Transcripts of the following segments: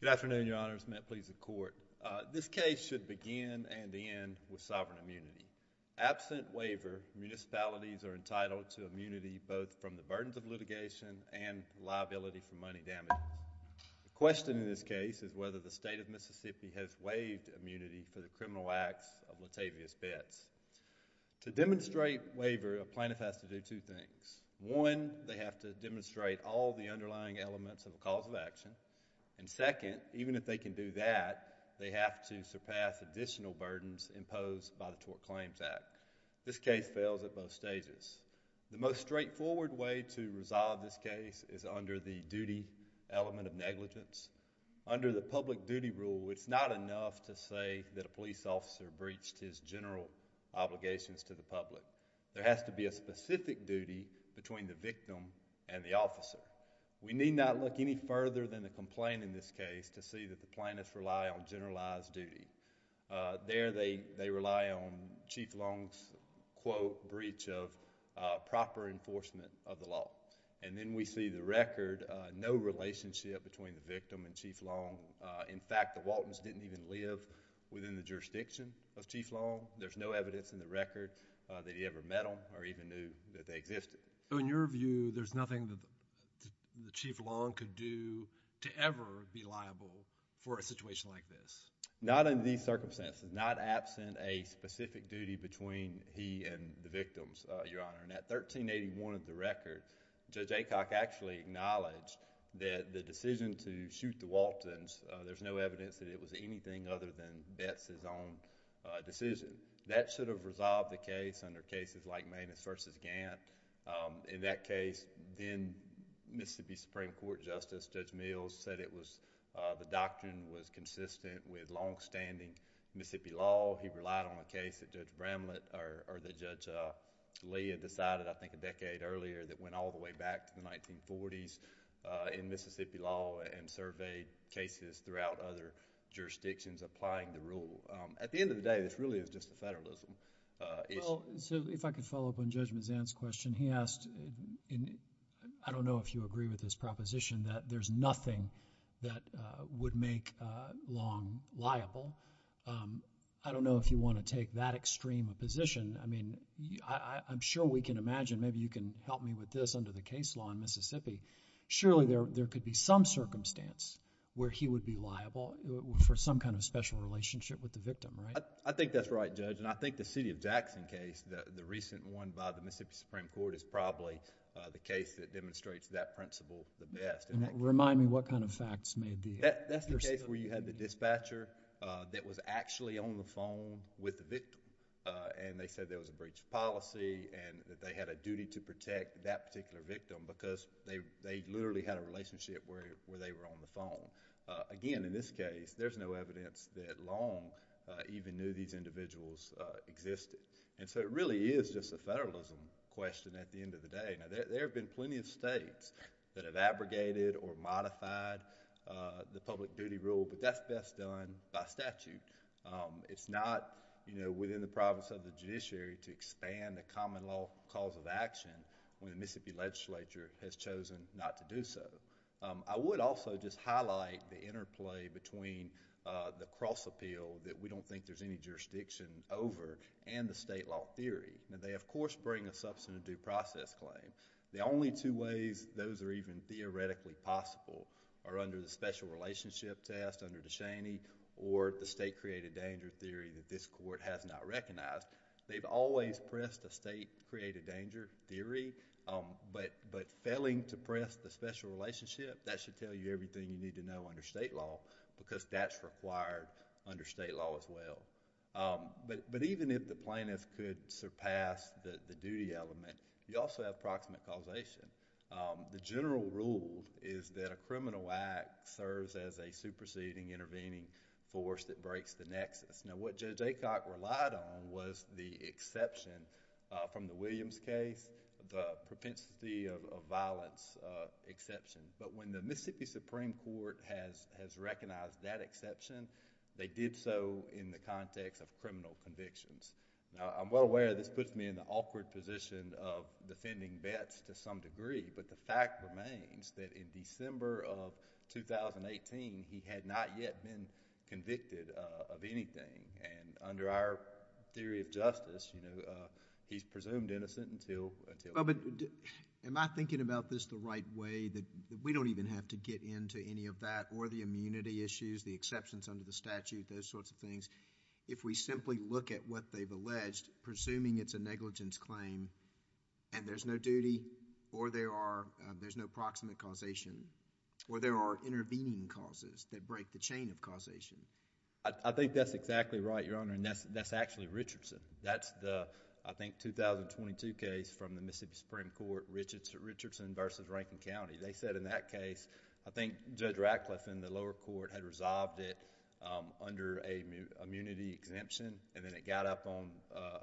Good afternoon, Your Honors. Matt Pleas of Court. This case should begin and end with sovereign immunity. Absent waiver, municipalities are entitled to immunity both from the burdens of litigation and liability for money damage. The question in this case is whether the state of Mississippi has waived immunity for the criminal acts of Latavious Betts. To demonstrate waiver, a plaintiff has to do two things. One, they have to demonstrate all the underlying elements of a cause of action. And second, even if they can do that, they have to surpass additional burdens imposed by the Tort Claims Act. This case fails at both stages. The most straightforward way to resolve this case is under the duty element of negligence. Under the public duty rule, it's not enough to say that a police officer breached his general obligations to the public. There has to be a specific duty between the victim and the plaintiff. We do not look any further than the complaint in this case to see that the plaintiffs rely on generalized duty. There, they rely on Chief Long's, quote, breach of proper enforcement of the law. And then we see the record, no relationship between the victim and Chief Long. In fact, the Waltons didn't even live within the jurisdiction of Chief Long. There's no evidence in the record that he ever met them or even knew that they Chief Long could do to ever be liable for a situation like this. Not in these circumstances. Not absent a specific duty between he and the victims, Your Honor. And at 1381 of the record, Judge Aycock actually acknowledged that the decision to shoot the Waltons, there's no evidence that it was anything other than Betz's own decision. That should have resolved the case under cases like Maidens v. Gant. In that case, then Mississippi Supreme Court Justice, Judge Mills, said it was, the doctrine was consistent with longstanding Mississippi law. He relied on a case that Judge Bramlett, or that Judge Lee had decided I think a decade earlier that went all the way back to the 1940s in Mississippi law and surveyed cases throughout other jurisdictions applying the rule. At the end of the day, this really is just a federalism issue. Well, so if I could follow up on Judge Mazzan's question. He asked, and I don't know if you agree with his proposition, that there's nothing that would make Long liable. I don't know if you want to take that extreme a position. I mean, I'm sure we can imagine, maybe you can help me with this under the case law in Mississippi. Surely there could be some circumstance where he would be liable for some kind of special relationship with the victim, right? I think that's right, Judge. And I think the City of Jackson case, the recent one by the And remind me what kind of facts may be... That's the case where you had the dispatcher that was actually on the phone with the victim, and they said there was a breach of policy and that they had a duty to protect that particular victim because they literally had a relationship where they were on the phone. Again, in this case, there's no evidence that Long even knew these individuals existed. And so it really is just a federalism question at the end of the day. Now, there have been plenty of states that have abrogated or modified the public duty rule, but that's best done by statute. It's not within the province of the judiciary to expand the common law cause of action when the Mississippi legislature has chosen not to do so. I would also just highlight the interplay between the cross appeal that we don't think there's any jurisdiction over and the state law theory. They, of course, bring a substantive due process claim. The only two ways those are even theoretically possible are under the special relationship test under DeShaney or the state created danger theory that this court has not recognized. They've always pressed a state created danger theory, but failing to press the special relationship, that should tell you everything you need to know under state law because that's required under state law as well. But even if the plaintiff could surpass the duty element, you also have proximate causation. The general rule is that a criminal act serves as a superseding intervening force that breaks the nexus. Now, what Judge Aycock relied on was the exception from the Williams case, the propensity of violence exception. But when the Mississippi Supreme Court has recognized that exception, they did so in the context of criminal convictions. Now, I'm well aware this puts me in the awkward position of defending Betts to some degree, but the fact remains that in December of 2018, he had not yet been convicted of anything. Under our theory of justice, he's presumed innocent until... Well, but am I thinking about this the right way that we don't even have to get into any of that or the immunity issues, the exceptions under the statute, those sorts of things, if we simply look at what they've alleged, presuming it's a negligence claim and there's no duty or there's no proximate causation or there are intervening causes that break the chain of causation? I think that's exactly right, Your Honor, and that's actually Richardson. That's the, I think, 2022 case from the Mississippi Supreme Court, Richardson v. Rankin County. They said in that case, I think Judge Ratcliffe in the lower court had resolved it under a immunity exemption and then it got up on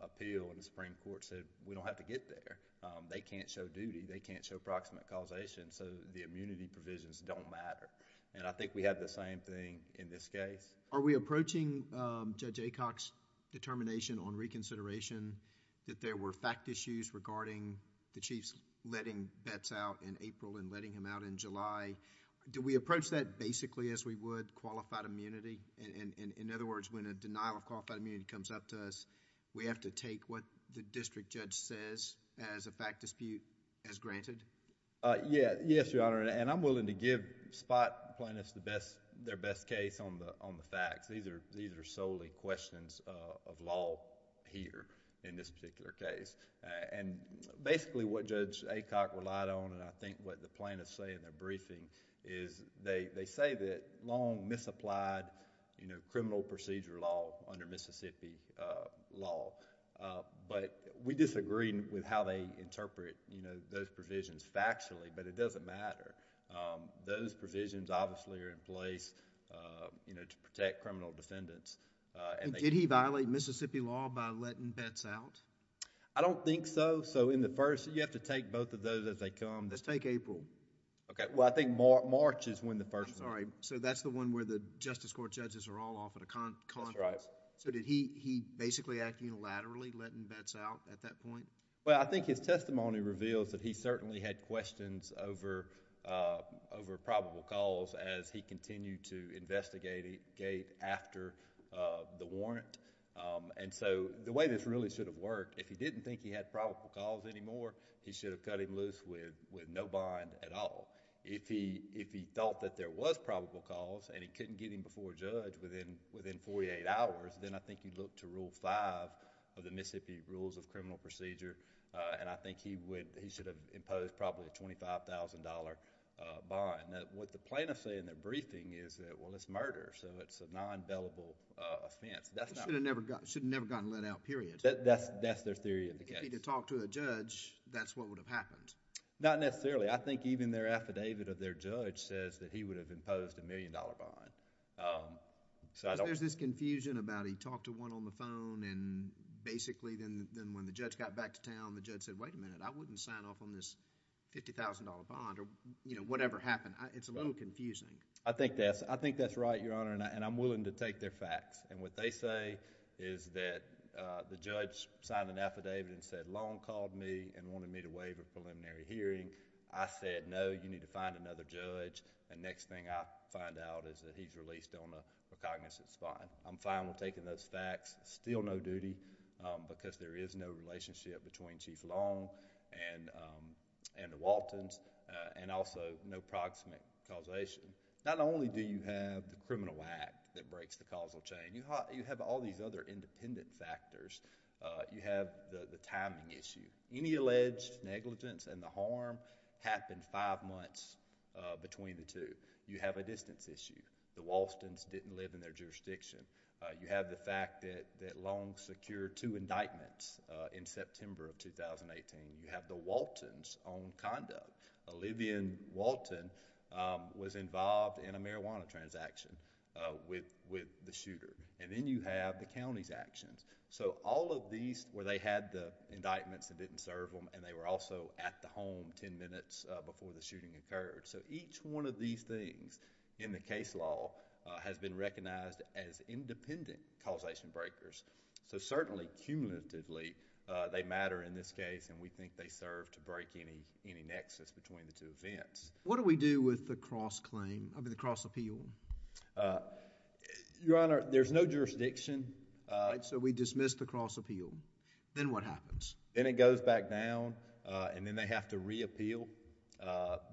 appeal and the Supreme Court said, we don't have to get there. They can't show duty. They can't show proximate causation, so the immunity provisions don't matter. I think we have the same thing in this case. Are we approaching Judge Aycock's determination on reconsideration that there were fact issues regarding the Chief's letting Betts out in April and letting him out in July? Do we approach that basically as we would qualified immunity? In other words, when a denial of qualified immunity comes up to us, we have to take what the district judge says as a fact dispute as granted? Yes, Your Honor, and I'm willing to give Spot Plaintiff's their best case on the fact issue. These are solely questions of law here in this particular case. Basically, what Judge Aycock relied on and I think what the plaintiffs say in their briefing is they say that long misapplied criminal procedure law under Mississippi law, but we disagree with how they interpret those provisions factually, but it doesn't matter. Those provisions obviously are in place to protect criminal defendants. Did he violate Mississippi law by letting Betts out? I don't think so. In the first, you have to take both of those as they come. Just take April. Okay. Well, I think March is when the first... I'm sorry. That's the one where the Justice Court judges are all off at a conference. That's right. Did he basically act unilaterally, letting Betts out at that point? Well, I think his testimony reveals that he certainly had questions over probable cause as he continued to investigate after the warrant. The way this really should have worked, if he didn't think he had probable cause anymore, he should have cut him loose with no bond at all. If he thought that there was probable cause and he couldn't get him before a judge within 48 hours, then I think he'd look to Rule 5 of the Mississippi Rules of Criminal Procedure and I think he should have imposed probably a $25,000 bond. Right. What the plaintiffs say in their briefing is that, well, it's murder, so it's a non-billable offense. That's not... He should have never gotten let out, period. That's their theory of the case. If he had talked to a judge, that's what would have happened? Not necessarily. I think even their affidavit of their judge says that he would have imposed a $1,000,000 bond. There's this confusion about he talked to one on the phone and basically then when the judge got back to town, the judge said, wait a minute, I wouldn't sign off on this $50,000 bond or whatever happened. It's a little confusing. I think that's right, Your Honor, and I'm willing to take their facts. What they say is that the judge signed an affidavit and said, Long called me and wanted me to waive a preliminary hearing. I said, no, you need to find another judge. The next thing I find out is that he's released on a cognizant spot. I'm fine with taking those facts. Still no relationship between Chief Long and the Waltons and also no proximate causation. Not only do you have the criminal act that breaks the causal chain, you have all these other independent factors. You have the timing issue. Any alleged negligence and the harm happened five months between the two. You have a distance issue. The Waltons didn't live in their jurisdiction. You have the fact that Long secured two indictments in September of 2018. You have the Waltons' own conduct. Olivian Walton was involved in a marijuana transaction with the shooter. Then you have the county's actions. All of these where they had the indictments that didn't serve them and they were also at the home ten minutes before the shooting occurred. Each one of these things in the case law has been recognized as independent causation breakers. Certainly, cumulatively, they matter in this case and we think they serve to break any nexus between the two events. What do we do with the cross appeal? Your Honor, there's no jurisdiction. We dismiss the cross appeal. Then what happens? Then it goes back down and then they have to reappeal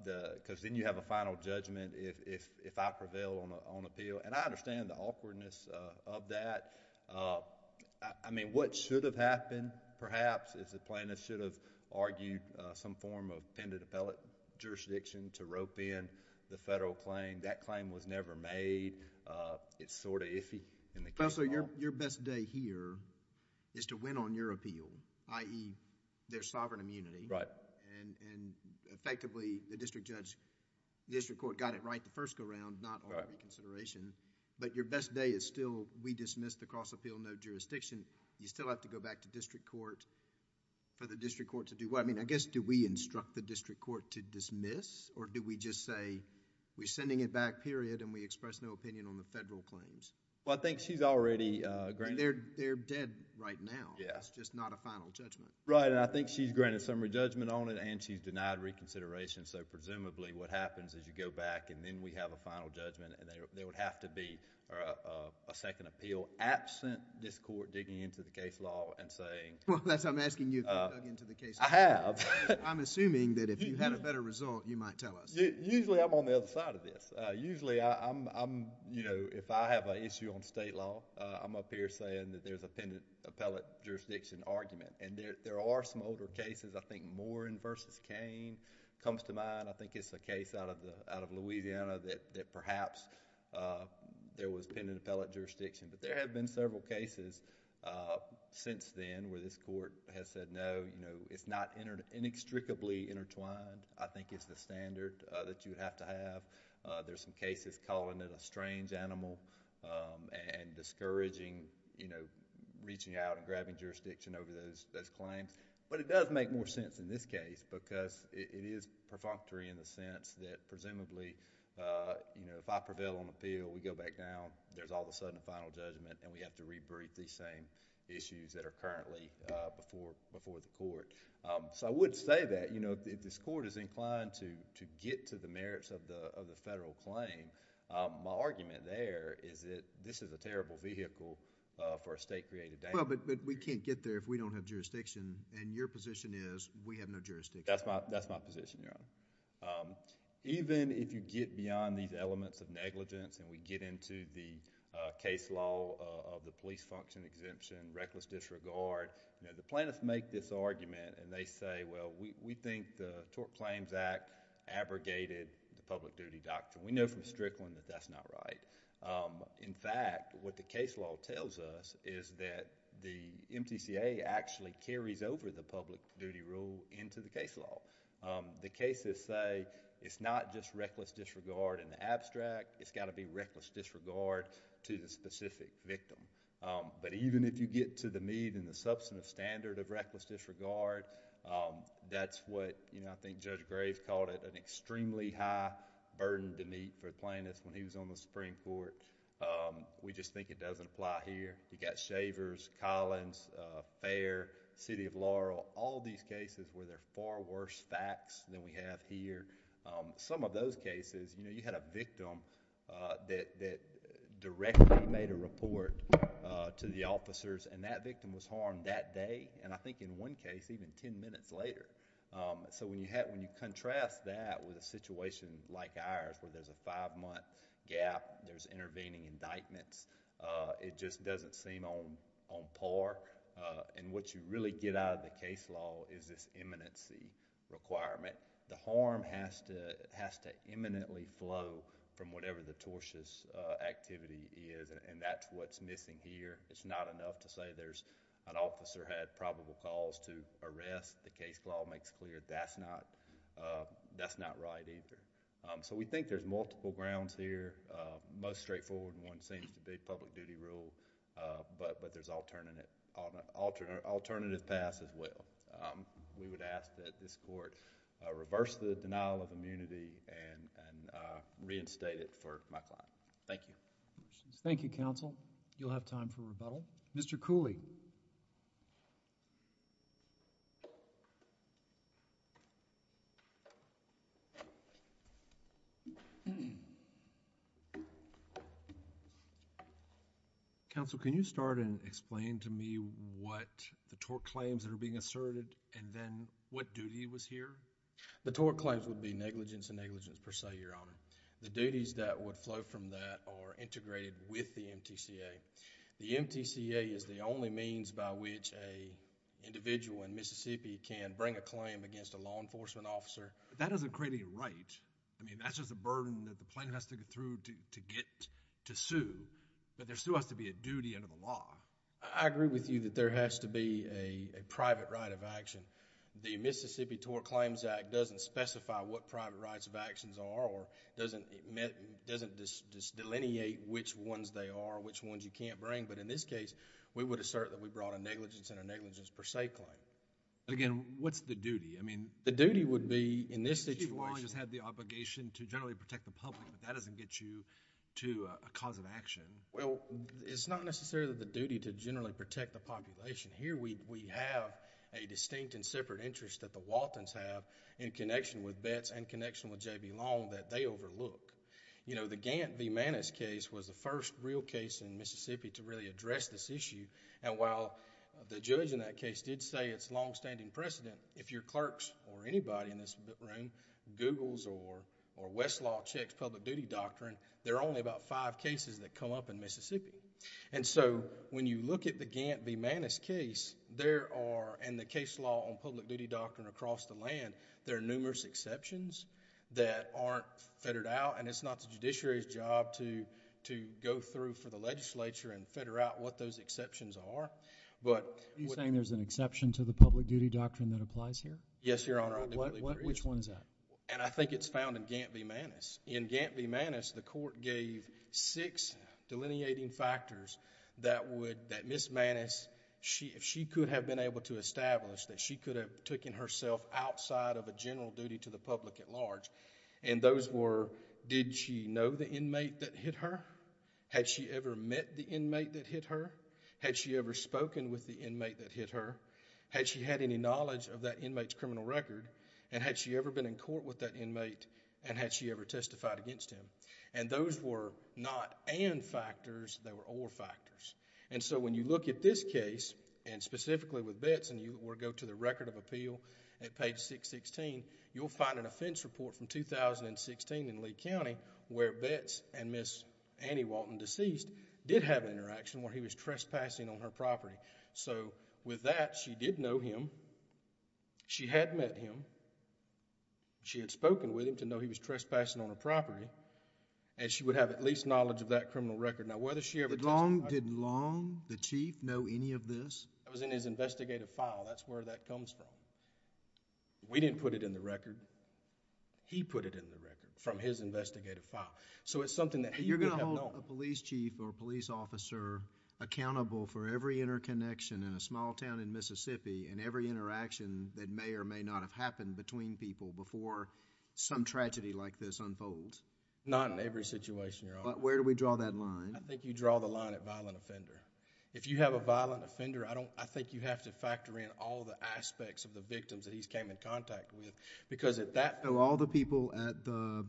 because then you have a final judgment if I prevail on appeal. I understand the awkwardness of that. I mean what should have happened, perhaps, is the plaintiff should have argued some form of appended appellate jurisdiction to rope in the federal claim. That claim was never made. It's sort of iffy in the case law. Your best day here is to win on your appeal, i.e., their sovereign immunity. Right. Effectively, the district court got it right the first go-round, not on reconsideration, but your best day is still we dismiss the cross appeal, no jurisdiction. You still have to go back to district court for the district court to do what? I mean I guess do we instruct the district court to dismiss or do we just say we're sending it back, period, and we express no opinion on the federal claims? Well, I think she's already granted... They're dead right now. Yes. It's just not a final judgment. Right, and I think she's granted summary judgment on it and she's denied reconsideration, so presumably what happens is you go back and then we have a final judgment and there would have to be a second appeal absent this court digging into the case law and saying... Well, that's why I'm asking you if you've dug into the case law. I have. I'm assuming that if you had a better result, you might tell us. Usually, I'm on the other side of this. Usually, if I have an issue on state law, I'm up here saying that there's appended appellate jurisdiction argument. There are some older cases. I think Morin v. Cain comes to mind. I think it's a case out of Louisiana that perhaps there was appended appellate jurisdiction, but there have been several cases since then where this court has said, no, it's not inextricably intertwined. I think it's the standard that you have to have. There's some cases calling it a strange animal and discouraging reaching out and grabbing jurisdiction over those claims, but it does make more sense in this case because it is perfunctory in the sense that presumably if I prevail on appeal, we go back down, there's all of a sudden a final judgment and we have to re-brief these same issues that are currently before the court. I would say that if this court is inclined to get to the merits of the federal claim, my argument there is that this is a terrible vehicle for a state-created dam. We can't get there if we don't have jurisdiction, and your position is we have no jurisdiction. That's my position, Your Honor. Even if you get beyond these elements of negligence and we get into the case law of the police function exemption, reckless disregard, the plaintiffs make this argument and they say, well, we think the Tort Claims Act abrogated the public duty doctrine. We know from Strickland that that's not right. In fact, what the case law tells us is that the MTCA actually carries over the public duty rule into the case law. The cases say it's not just reckless disregard in the abstract, it's got to be reckless disregard to the specific victim, but even if you get to the median and the substantive standard of reckless disregard, that's what I think Judge Graves called it, an extremely high burden to meet for the court. We just think it doesn't apply here. You got Shavers, Collins, Fair, City of Laurel, all these cases where they're far worse facts than we have here. Some of those cases, you had a victim that directly made a report to the officers and that victim was harmed that day, and I think in one case, even ten minutes later. When you contrast that with a situation like ours where there's a five-month gap, there's intervening indictments, it just doesn't seem on par. What you really get out of the case law is this imminency requirement. The harm has to imminently flow from whatever the tortious activity is and that's what's missing here. It's not enough to say there's an officer had probable cause to arrest. The case law makes clear that's not right either. We think there's multiple grounds here. Most straightforward one seems to be public duty rule, but there's alternative paths as well. We would ask that this court reverse the denial of immunity and reinstate it for my client. Thank you. Thank you, counsel. You'll have time for rebuttal. Mr. Cooley. Counsel, can you start and explain to me what the tort claims that are being asserted and then what duty was here? The tort claims would be negligence and negligence per se, Your Honor. The duties that would flow from that are integrated with the MTCA. The MTCA is the only means by which an individual in Mississippi can bring a claim against a law enforcement officer. That doesn't create any right. I mean, that's just a burden that the plaintiff has to get through to get to sue, but there still has to be a duty under the law. I agree with you that there has to be a private right of action. The Mississippi Tort Claims Act doesn't specify what private rights of claim, doesn't just delineate which ones they are, which ones you can't bring, but in this case, we would assert that we brought a negligence and a negligence per se claim. Again, what's the duty? The duty would be in this situation... Chief Wally just had the obligation to generally protect the public, but that doesn't get you to a cause of action. Well, it's not necessarily the duty to generally protect the population. Here we have a distinct and separate interest that the Waltons have in connection with Betts and connection with J.B. Long that they overlook. The Gantt v. Maness case was the first real case in Mississippi to really address this issue. While the judge in that case did say it's long-standing precedent, if your clerks or anybody in this room Googles or Westlaw checks public duty doctrine, there are only about five cases that come up in Mississippi. When you look at the Gantt v. Maness case, there are... and the case law on public duty doctrine across the land, there are numerous exceptions that aren't fettered out and it's not the judiciary's job to go through for the legislature and fetter out what those exceptions are, but... Are you saying there's an exception to the public duty doctrine that applies here? Yes, Your Honor. I do believe there is. Which one is that? I think it's found in Gantt v. Maness. In Gantt v. Maness, the court gave six delineating factors that would... that she could have been able to establish that she could have taken herself outside of a general duty to the public at large. Those were, did she know the inmate that hit her? Had she ever met the inmate that hit her? Had she ever spoken with the inmate that hit her? Had she had any knowledge of that inmate's criminal record and had she ever been in court with that inmate and had she ever testified against him? Those were not and factors, they were or factors. When you look at this case and specifically with Betts and you go to the record of appeal at page 616, you'll find an offense report from 2016 in Lee County where Betts and Ms. Annie Walton, deceased, did have an interaction where he was trespassing on her property. With that, she did know him. She had met him. She had spoken with him to know he was trespassing on her property and she would have at least knowledge of that criminal record. Did Long, the chief, know any of this? It was in his investigative file. That's where that comes from. We didn't put it in the record. He put it in the record from his investigative file. So it's something that he could have known. You're going to hold a police chief or a police officer accountable for every interconnection in a small town in Mississippi and every interaction that may or may not have happened between people before some tragedy like this unfolds? Not in every situation, Your Honor. Where do we draw that line? I think you draw the line at violent offender. If you have a violent offender, I think you have to factor in all the aspects of the victims that he's came in contact with because at that... So all the people at the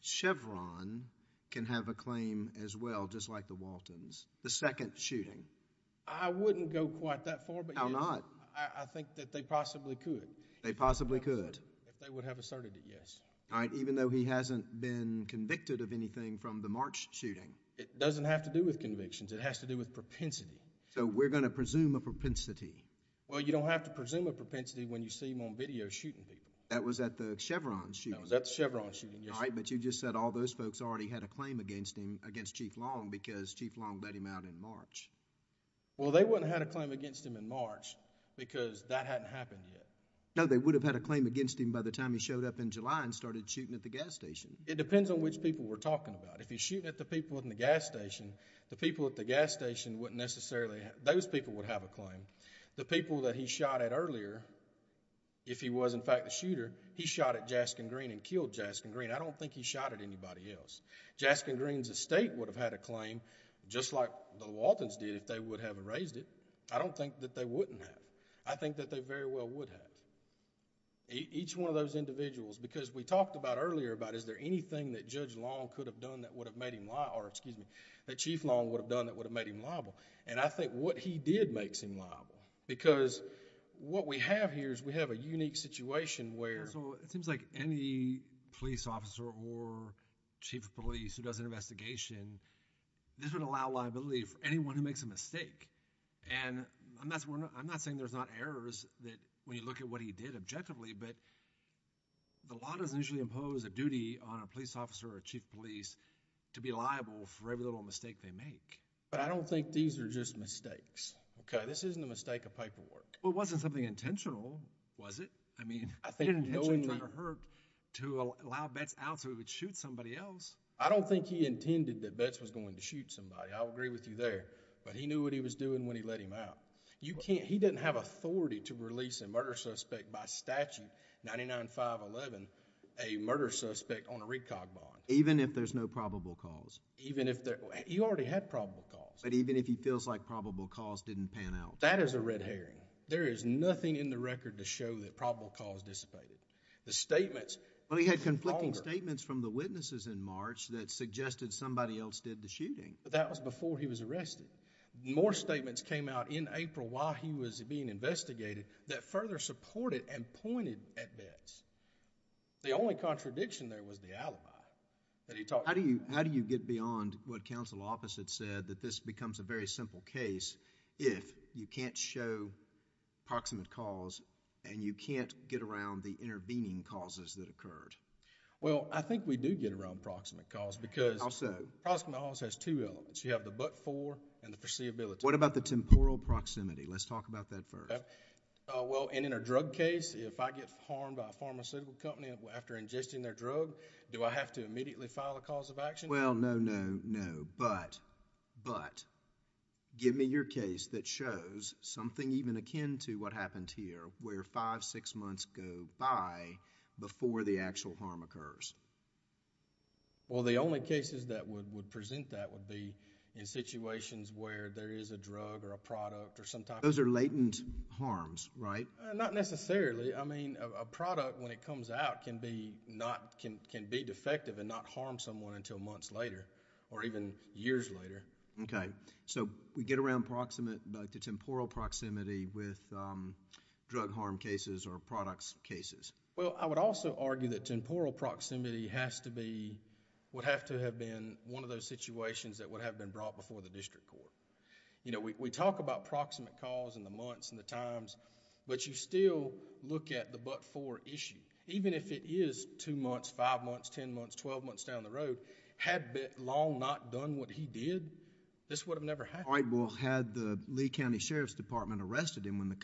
Chevron can have a claim as well, just like the Waltons, the second shooting? I wouldn't go quite that far, but yes. How not? I think that they possibly could. They possibly could? If they would have asserted it, yes. Even though he hasn't been convicted of anything from the March shooting? It doesn't have to do with convictions. It has to do with propensity. So we're going to presume a propensity? Well, you don't have to presume a propensity when you see him on video shooting people. That was at the Chevron shooting? That was at the Chevron shooting, yes. All right, but you just said all those folks already had a claim against him, against Chief Long, because Chief Long let him out in March. Well, they wouldn't have had a claim against him in March because that hadn't happened yet. No, they would have had a claim against him by the time he showed up in July and started shooting at the gas station. It depends on which people we're talking about. If he's shooting at the people at the gas station, the people at the gas station wouldn't necessarily, those people would have a claim. The people that he shot at earlier, if he was in fact the shooter, he shot at Jaskin Green and killed Jaskin Green. I don't think he shot at anybody else. Jaskin Green's estate would have had a claim, just like the Lewaltons did if they would have erased it. I don't think that they wouldn't have. I think that they very well would have. Each one of those individuals, because we talked about earlier about is there anything that Chief Long could have done that would have made him liable. I think what he did makes him liable because what we have here is we have a unique situation where... It seems like any police officer or chief of police who does an investigation, this would allow liability for anyone who makes a mistake. I'm not saying there's not errors when you look at what he did objectively, but the law doesn't usually impose a duty on a police officer or a chief of police to be liable for every little mistake they make. I don't think these are just mistakes. This isn't a mistake of paperwork. It wasn't something intentional, was it? I think knowing that it hurt to allow Betts out so he would shoot somebody else... I don't think he intended that Betts was going to shoot somebody. I'll agree with you there, but he knew what he was doing when he let him out. He didn't have authority to release a murder suspect by statute, 99-511, a murder suspect on a recog bond. Even if there's no probable cause? Even if there... He already had probable cause. But even if he feels like probable cause didn't pan out? That is a red herring. There is nothing in the record to show that probable cause dissipated. The statements... Well, he had conflicting statements from the witnesses in March that suggested somebody else did the shooting. But that was before he was arrested. More statements came out in April while he was being investigated that further supported and pointed at Betts. The only contradiction there was the alibi that he talked about. How do you get beyond what counsel opposite said that this becomes a very simple case if you can't show proximate cause and you can't get around the intervening causes that occurred? How so? There are two elements. You have the but-for and the foreseeability. What about the temporal proximity? Let's talk about that first. In a drug case, if I get harmed by a pharmaceutical company after ingesting their drug, do I have to immediately file a cause of action? Well, no, no, no, but give me your case that shows something even akin to what happened here where five, six months go by before the actual harm occurs. Well, the only cases that would present that would be in situations where there is a drug or a product or some type of... Those are latent harms, right? Not necessarily. I mean, a product when it comes out can be defective and not harm someone until months later or even years later. Okay. So we get around the temporal proximity with drug harm cases or products cases. Well, I would also argue that temporal proximity would have to have been one of those situations that would have been brought before the district court. We talk about proximate cause and the months and the times, but you still look at the but-for issue. Even if it is two months, five months, ten months, twelve months down the road, had Long not done what he did, this would have never happened. All right. Well, had the Lee County Sheriff's Department arrested him when the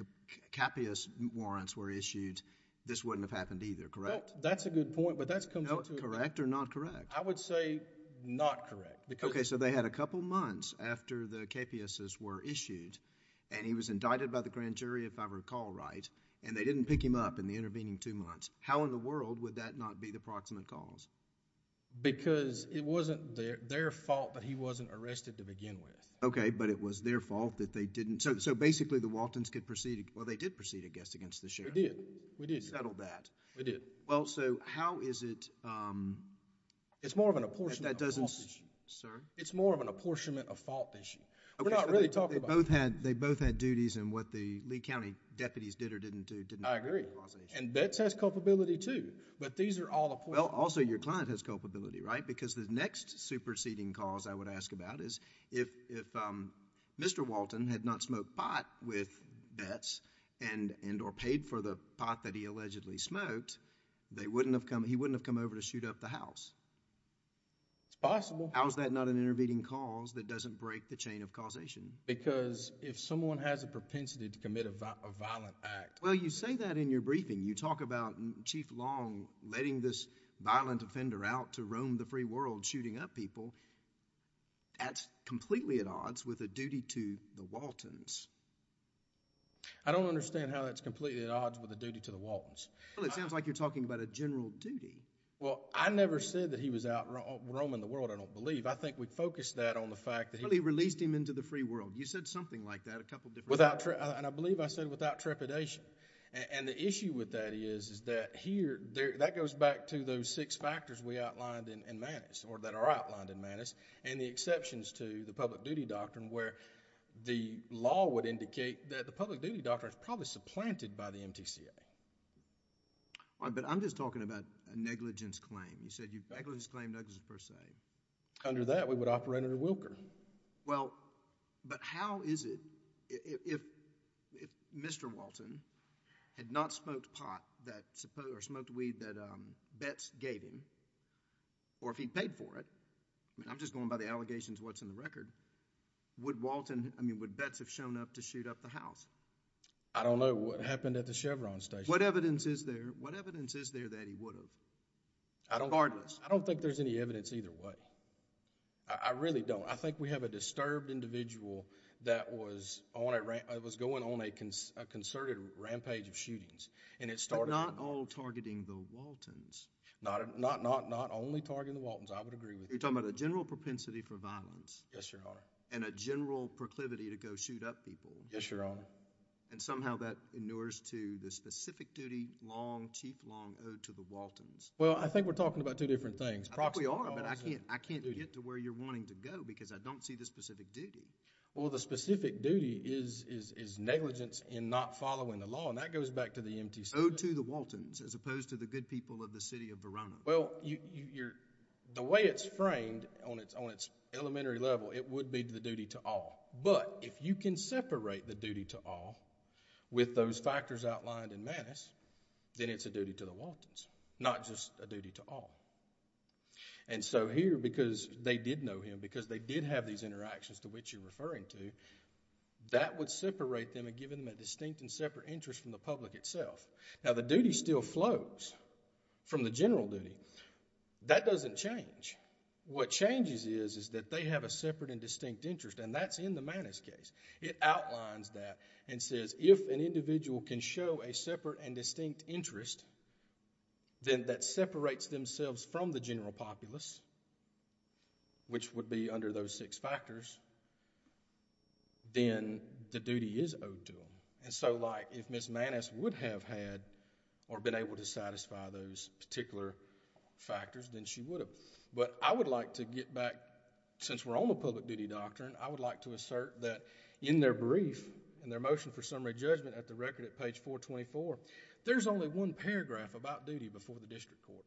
Well, that's a good point, but that comes into... Correct or not correct? I would say not correct because... Okay. So they had a couple months after the KPSs were issued and he was indicted by the grand jury, if I recall right, and they didn't pick him up in the intervening two months. How in the world would that not be the proximate cause? Because it wasn't their fault that he wasn't arrested to begin with. Okay, but it was their fault that they didn't... So basically, the Waltons could proceed... well, they did proceed, I guess, against the sheriff. We did. We did. You settled that. We did. Well, so how is it... It's more of an apportionment of fault issue. Sorry? It's more of an apportionment of fault issue. Okay. We're not really talking about... They both had duties and what the Lee County deputies did or didn't do didn't... I agree.... cause the issue. And Betts has culpability too, but these are all... Well, also your client has culpability, right? Because the next superseding cause I would ask about is if Mr. Walton had not smoked pot with Betts and or paid for the pot that he allegedly smoked, they wouldn't have come... he wouldn't have come over to shoot up the house. It's possible. How is that not an intervening cause that doesn't break the chain of causation? Because if someone has a propensity to commit a violent act... Well, you say that in your briefing. You talk about Chief Long letting this violent offender out to roam the free world shooting up people. That's completely at odds with a duty to the Waltons. I don't understand how that's completely at odds with a duty to the Waltons. Well, it sounds like you're talking about a general duty. Well, I never said that he was out roaming the world. I don't believe. I think we focused that on the fact that he... Well, he released him into the free world. You said something like that a couple different times. And I believe I said without trepidation. And the issue with that is that here... that goes back to those six factors we were outlined in Manus and the exceptions to the public duty doctrine where the law would indicate that the public duty doctrine is probably supplanted by the MTCA. But I'm just talking about a negligence claim. You said negligence claim, negligence per se. Under that, we would operate under Wilker. But how is it, if Mr. Walton had not smoked pot or smoked weed that Betts gave him, or if he paid for it... I mean, I'm just going by the allegations and what's in the record. Would Walton... I mean, would Betts have shown up to shoot up the house? I don't know. What happened at the Chevron station? What evidence is there? What evidence is there that he would have? I don't... Regardless? I don't think there's any evidence either way. I really don't. I think we have a disturbed individual that was going on a concerted rampage of shootings. And it started... But not all targeting the Waltons. Not only targeting the Waltons. I would agree with you. You're talking about a general propensity for violence. Yes, Your Honor. And a general proclivity to go shoot up people. Yes, Your Honor. And somehow, that inures to the specific duty, long, chief, long, ode to the Waltons. Well, I think we're talking about two different things. Proxy... I think we are, but I can't get to where you're wanting to go because I don't see the specific duty. Well, the specific duty is negligence in not following the law. Well, the specific duty is negligence in not following the law. And that goes back to the MTC... Well, you're... The way it's framed on its elementary level, it would be the duty to all. But, if you can separate the duty to all with those factors outlined in Manis, then it's a duty to the Waltons, not just a duty to all. And so here, because they did know him, because they did have these interactions to which you're referring to, that would separate them and give them a distinct and separate interest from the public itself. Now, the duty still flows from the general duty. That doesn't change. What changes is, is that they have a separate and distinct interest, and that's in the Manis case. It outlines that and says, if an individual can show a separate and distinct interest, then that separates themselves from the general populace, which would be under those six factors, then the duty is owed to them. And so, if Ms. Manis would have had or been able to satisfy those particular factors, then she would have. But, I would like to get back, since we're on the public duty doctrine, I would like to assert that in their brief, in their motion for summary judgment at the record at page 424, there's only one paragraph about duty before the district court,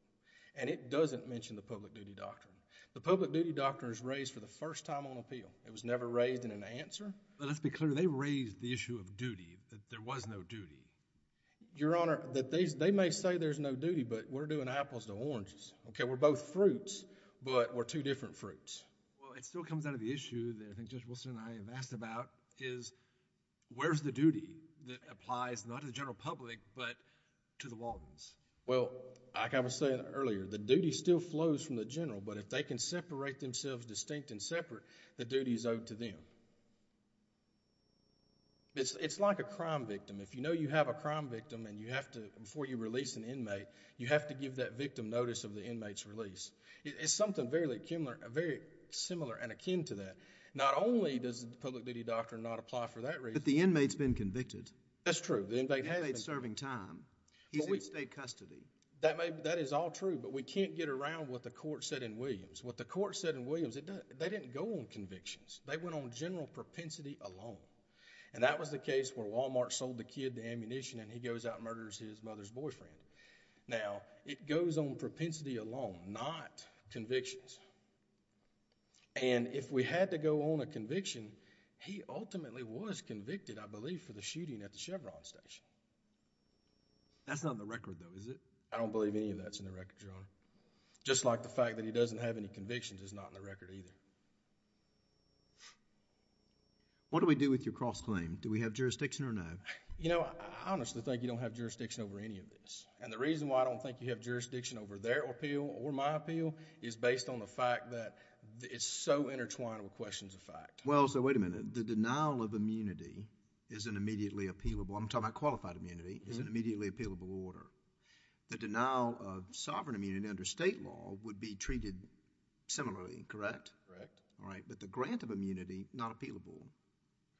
and it doesn't mention the public duty doctrine. The public duty doctrine is raised for the first time on appeal. It was never raised in an answer. Well, let's be clear. They raised the issue of duty, that there was no duty. Your Honor, they may say there's no duty, but we're doing apples to oranges. Okay, we're both fruits, but we're two different fruits. Well, it still comes out of the issue that I think Judge Wilson and I have asked about is, where's the duty that applies, not to the general public, but to the Waltons? Well, like I was saying earlier, the duty still flows from the general, but if they can separate themselves distinct and separate, the duty is owed to them. It's like a crime victim. If you know you have a crime victim and you have to, before you release an inmate, you have to give that victim notice of the inmate's release. It's something very similar and akin to that. Not only does the public duty doctrine not apply for that reason... But the inmate's been convicted. That's true. The inmate has been convicted. The inmate's serving time. He's in state custody. That is all true, but we can't get around what the court said in Williams. What the court said in Williams, they didn't go on convictions. They went on general propensity alone, and that was the case where Walmart sold the kid to ammunition and he goes out and murders his mother's boyfriend. Now, it goes on propensity alone, not convictions, and if we had to go on a conviction, he ultimately was convicted, I believe, for the shooting at the Chevron station. That's not in the record, though, is it? I don't believe any of that's in the record, Your Honor. Just like the fact that he doesn't have any convictions is not in the record, either. What do we do with your cross-claim? Do we have jurisdiction or no? You know, I honestly think you don't have jurisdiction over any of this. And the reason why I don't think you have jurisdiction over their appeal or my appeal is based on the fact that it's so intertwined with questions of fact. Well, so wait a minute. The denial of immunity is an immediately appealable... I'm talking about qualified immunity. It's an immediately appealable order. The denial of sovereign immunity under state law would be treated similarly, correct? Correct. All right. But the grant of immunity, not appealable.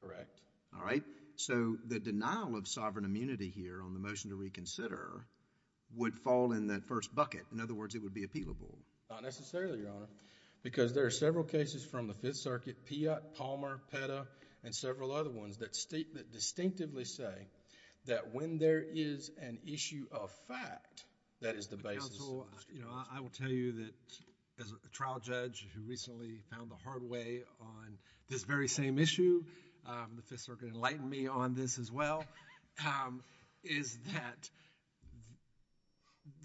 Correct. All right. So, the denial of sovereign immunity here on the motion to reconsider would fall in that first bucket. In other words, it would be appealable. Not necessarily, Your Honor, because there are several cases from the Fifth Circuit, Piatt, Palmer, Petta, and several other ones that distinctively say that when there is an issue of fact... That is the basis... Counsel, you know, I will tell you that as a trial judge who recently found a hard way on this very same issue, the Fifth Circuit enlightened me on this as well, is that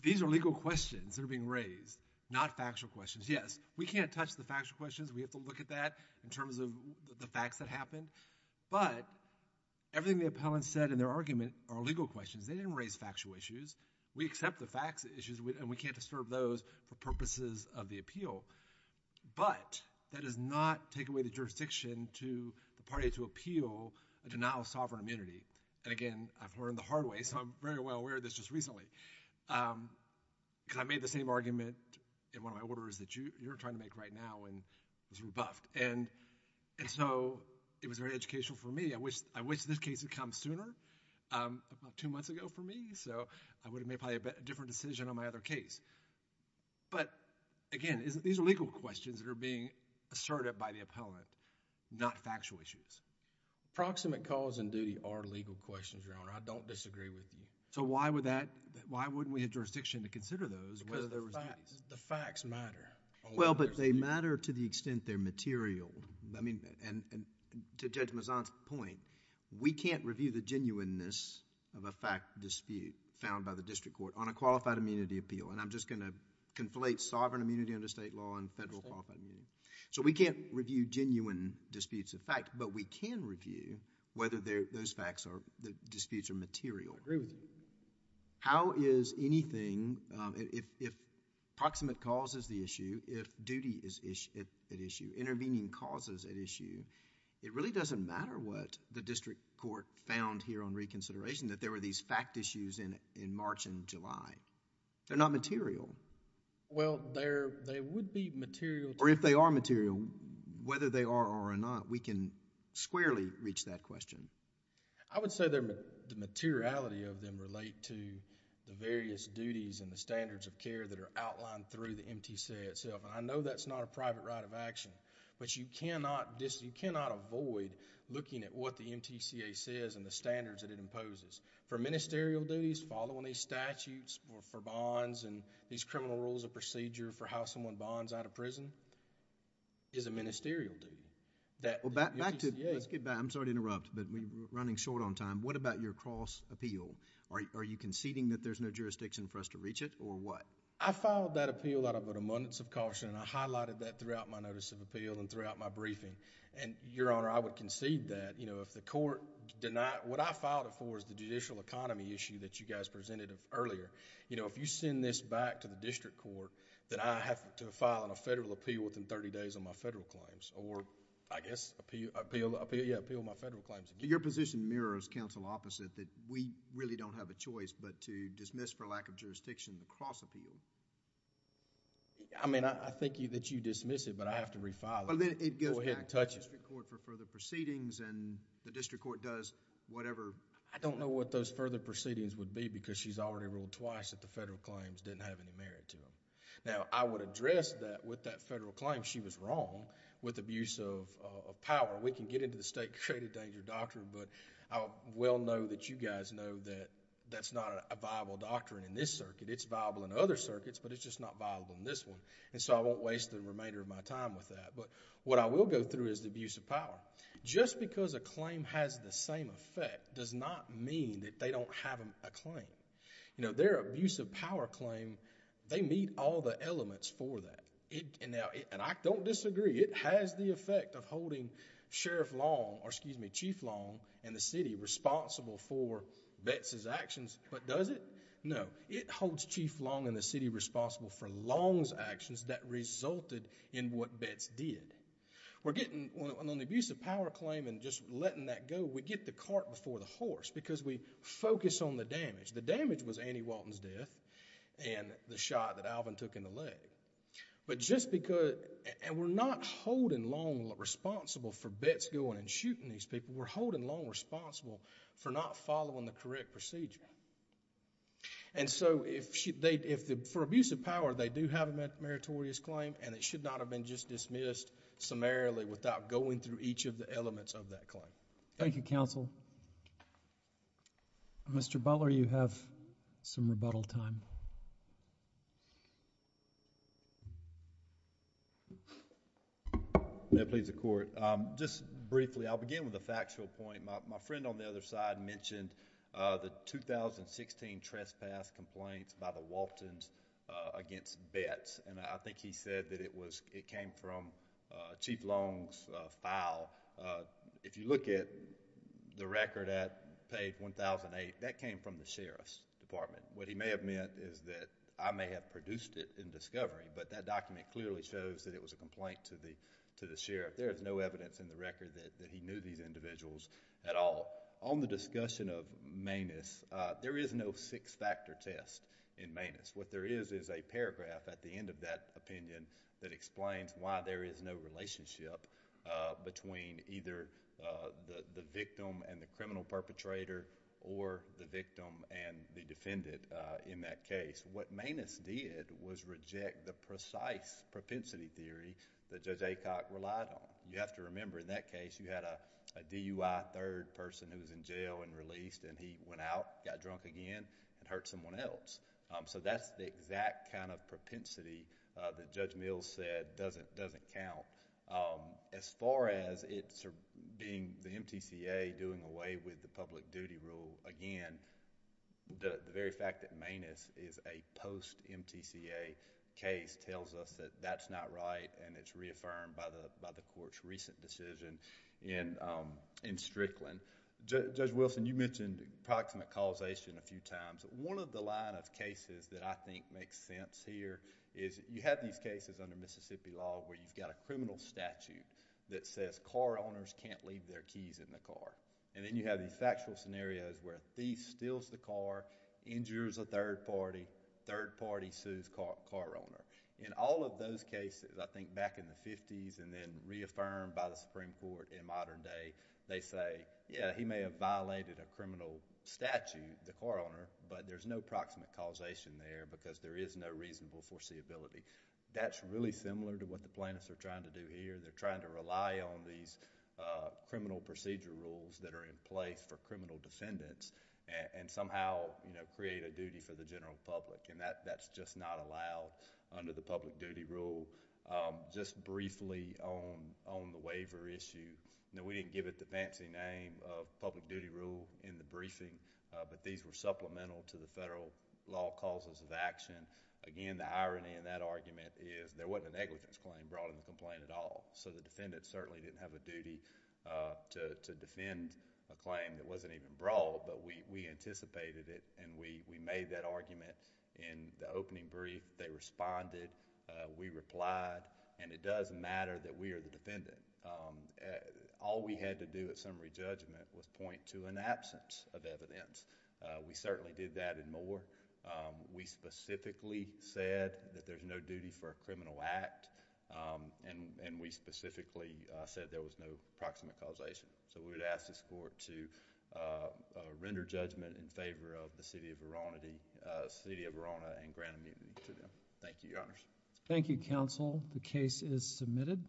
these are legal questions that are being raised, not factual questions. Yes, we can't touch the factual questions. We have to look at that in terms of the facts that happened. But everything the appellant said in their argument are legal questions. They didn't raise factual issues. We accept the facts, the issues, and we can't disturb those for purposes of the appeal. But that does not take away the jurisdiction to the party to appeal a denial of sovereign immunity. And again, I've learned the hard way, so I'm very well aware of this just recently. Because I made the same argument in one of my orders that you're trying to make right now and was rebuffed. And so, it was very educational for me. I wish this case had come sooner, about two months ago for me. So, I would have made probably a different decision on my other case. But again, these are legal questions that are being asserted by the appellant, not factual issues. Proximate cause and duty are legal questions, Your Honor. I don't disagree with you. So, why would that... why wouldn't we have jurisdiction to consider those? Because the facts matter. Well, but they matter to the extent they're material. I mean, to Judge Mazzon's point, we can't review the genuineness of a fact dispute found by the district court on a qualified immunity appeal. And I'm just going to conflate sovereign immunity under state law and federal qualified immunity. So, we can't review genuine disputes of fact, but we can review whether those facts or disputes are material. I agree with you. How is anything... if proximate cause is the issue, if duty is at issue, intervening cause is at issue, it really doesn't matter what the district court found here on reconsideration, that there were these fact issues in March and July. They're not material. Well, they would be material... Or if they are material, whether they are or are not, we can squarely reach that question. I would say the materiality of them relate to the various duties and the standards of care that are outlined through the MTCA itself. I know that's not a private right of action, but you cannot avoid looking at what the MTCA says and the standards that it imposes. For ministerial duties, following these statutes for bonds and these criminal rules of procedure for how someone bonds out of prison is a ministerial duty. Back to... I'm sorry to interrupt, but we're running short on time. What about your cross appeal? Are you conceding that there's no jurisdiction for us to reach it or what? I filed that appeal out of an abundance of caution and I highlighted that throughout my notice of appeal and throughout my briefing. Your Honor, I would concede that if the court denied... what I filed it for is the judicial economy issue that you guys presented earlier. If you send this back to the district court, that I have to file a federal appeal within thirty days on my federal claims or I guess appeal my federal claims. Your position mirrors counsel opposite that we really don't have a choice but to dismiss for lack of jurisdiction the cross appeal. I mean, I think that you dismiss it, but I have to refile it. Go ahead and touch it. It goes back to the district court for further proceedings and the district court does whatever... I don't know what those further proceedings would be because she's already ruled twice that the federal claims didn't have any merit to them. Now, I would address that with that federal claim she was wrong with abuse of power. We can get into the state credit danger doctrine, but I will know that you guys know that that's not a viable doctrine in this circuit. It's viable in other circuits, but it's just not viable in this one. I won't waste the remainder of my time with that. What I will go through is the abuse of power. Just because a claim has the same effect does not mean that they don't have a claim. Their abuse of power claim, they meet all the elements for that. I don't disagree. It has the effect of holding Sheriff Long... or excuse me, Chief Long and the city responsible for Betz's actions, but does it? No. It holds Chief Long and the city responsible for Long's actions that resulted in what Betz did. We're getting... on the abuse of power claim and just letting that go, we get the cart before the horse because we focus on the damage. The damage was Annie Walton's death and the shot that Alvin took in the leg, but just because... and we're not holding Long responsible for Betz going and shooting these people. We're holding Long responsible for not following the correct procedure. For abuse of power, they do have a meritorious claim and it should not have been just dismissed summarily without going through each of the elements of that claim. Thank you, Counsel. Mr. Butler, you have some rebuttal time. May it please the Court. Thank you. Just briefly, I'll begin with a factual point. My friend on the other side mentioned the 2016 trespass complaints by the Waltons against Betz. I think he said that it came from Chief Long's file. If you look at the record at page 1008, that came from the Sheriff's Department. What he may have meant is that I may have produced it in discovery, but that document clearly shows that it was a complaint to the Sheriff. There is no evidence in the record that he knew these individuals at all. On the discussion of Manus, there is no six-factor test in Manus. What there is is a paragraph at the end of that opinion that explains why there is no relationship between either the victim and the criminal perpetrator or the victim and the defendant in that case. What Manus did was reject the precise propensity theory that Judge Aycock relied on. You have to remember in that case, you had a DUI third person who was in jail and released and he went out, got drunk again, and hurt someone else. That's the exact kind of propensity that Judge Mills said doesn't count. As far as it being the MTCA doing away with the public duty rule, again, the very fact that Manus is a post-MTCA case tells us that that's not right and it's reaffirmed by the court's recent decision in Strickland. Judge Wilson, you mentioned approximate causation a few times. One of the line of cases that I think makes sense here is you have these cases under Mississippi law where you've got a criminal statute that says car owners can't leave their keys in the car. Then you have these factual scenarios where a thief steals the car, injures a third party, third party sues car owner. In all of those cases, I think back in the 50s and then reaffirmed by the Supreme Court in modern day, they say, yeah, he may have violated a criminal statute, the car owner, but there's no approximate causation there because there is no reasonable foreseeability. That's really similar to what the plaintiffs are trying to do here. They're trying to rely on these criminal procedure rules that are in place for criminal defendants and somehow create a duty for the general public and that's just not allowed under the public duty rule. Just briefly on the waiver issue, we didn't give it the fancy name of public duty rule in the briefing, but these were supplemental to the federal law causes of action. Again, the irony in that argument is there wasn't a negligence claim brought in the complaint at all. The defendant certainly didn't have a duty to defend a claim that wasn't even brought, but we anticipated it and we made that argument in the opening brief. They responded, we replied, and it does matter that we are the defendant. All we had to do at summary judgment was point to an absence of evidence. We certainly did that and more. We specifically said that there's no duty for a criminal act and we specifically said there was no proximate causation. We would ask this court to render judgment in favor of the city of Verona and grant immunity to them. Thank you, Your Honors. Thank you, counsel. The case is submitted.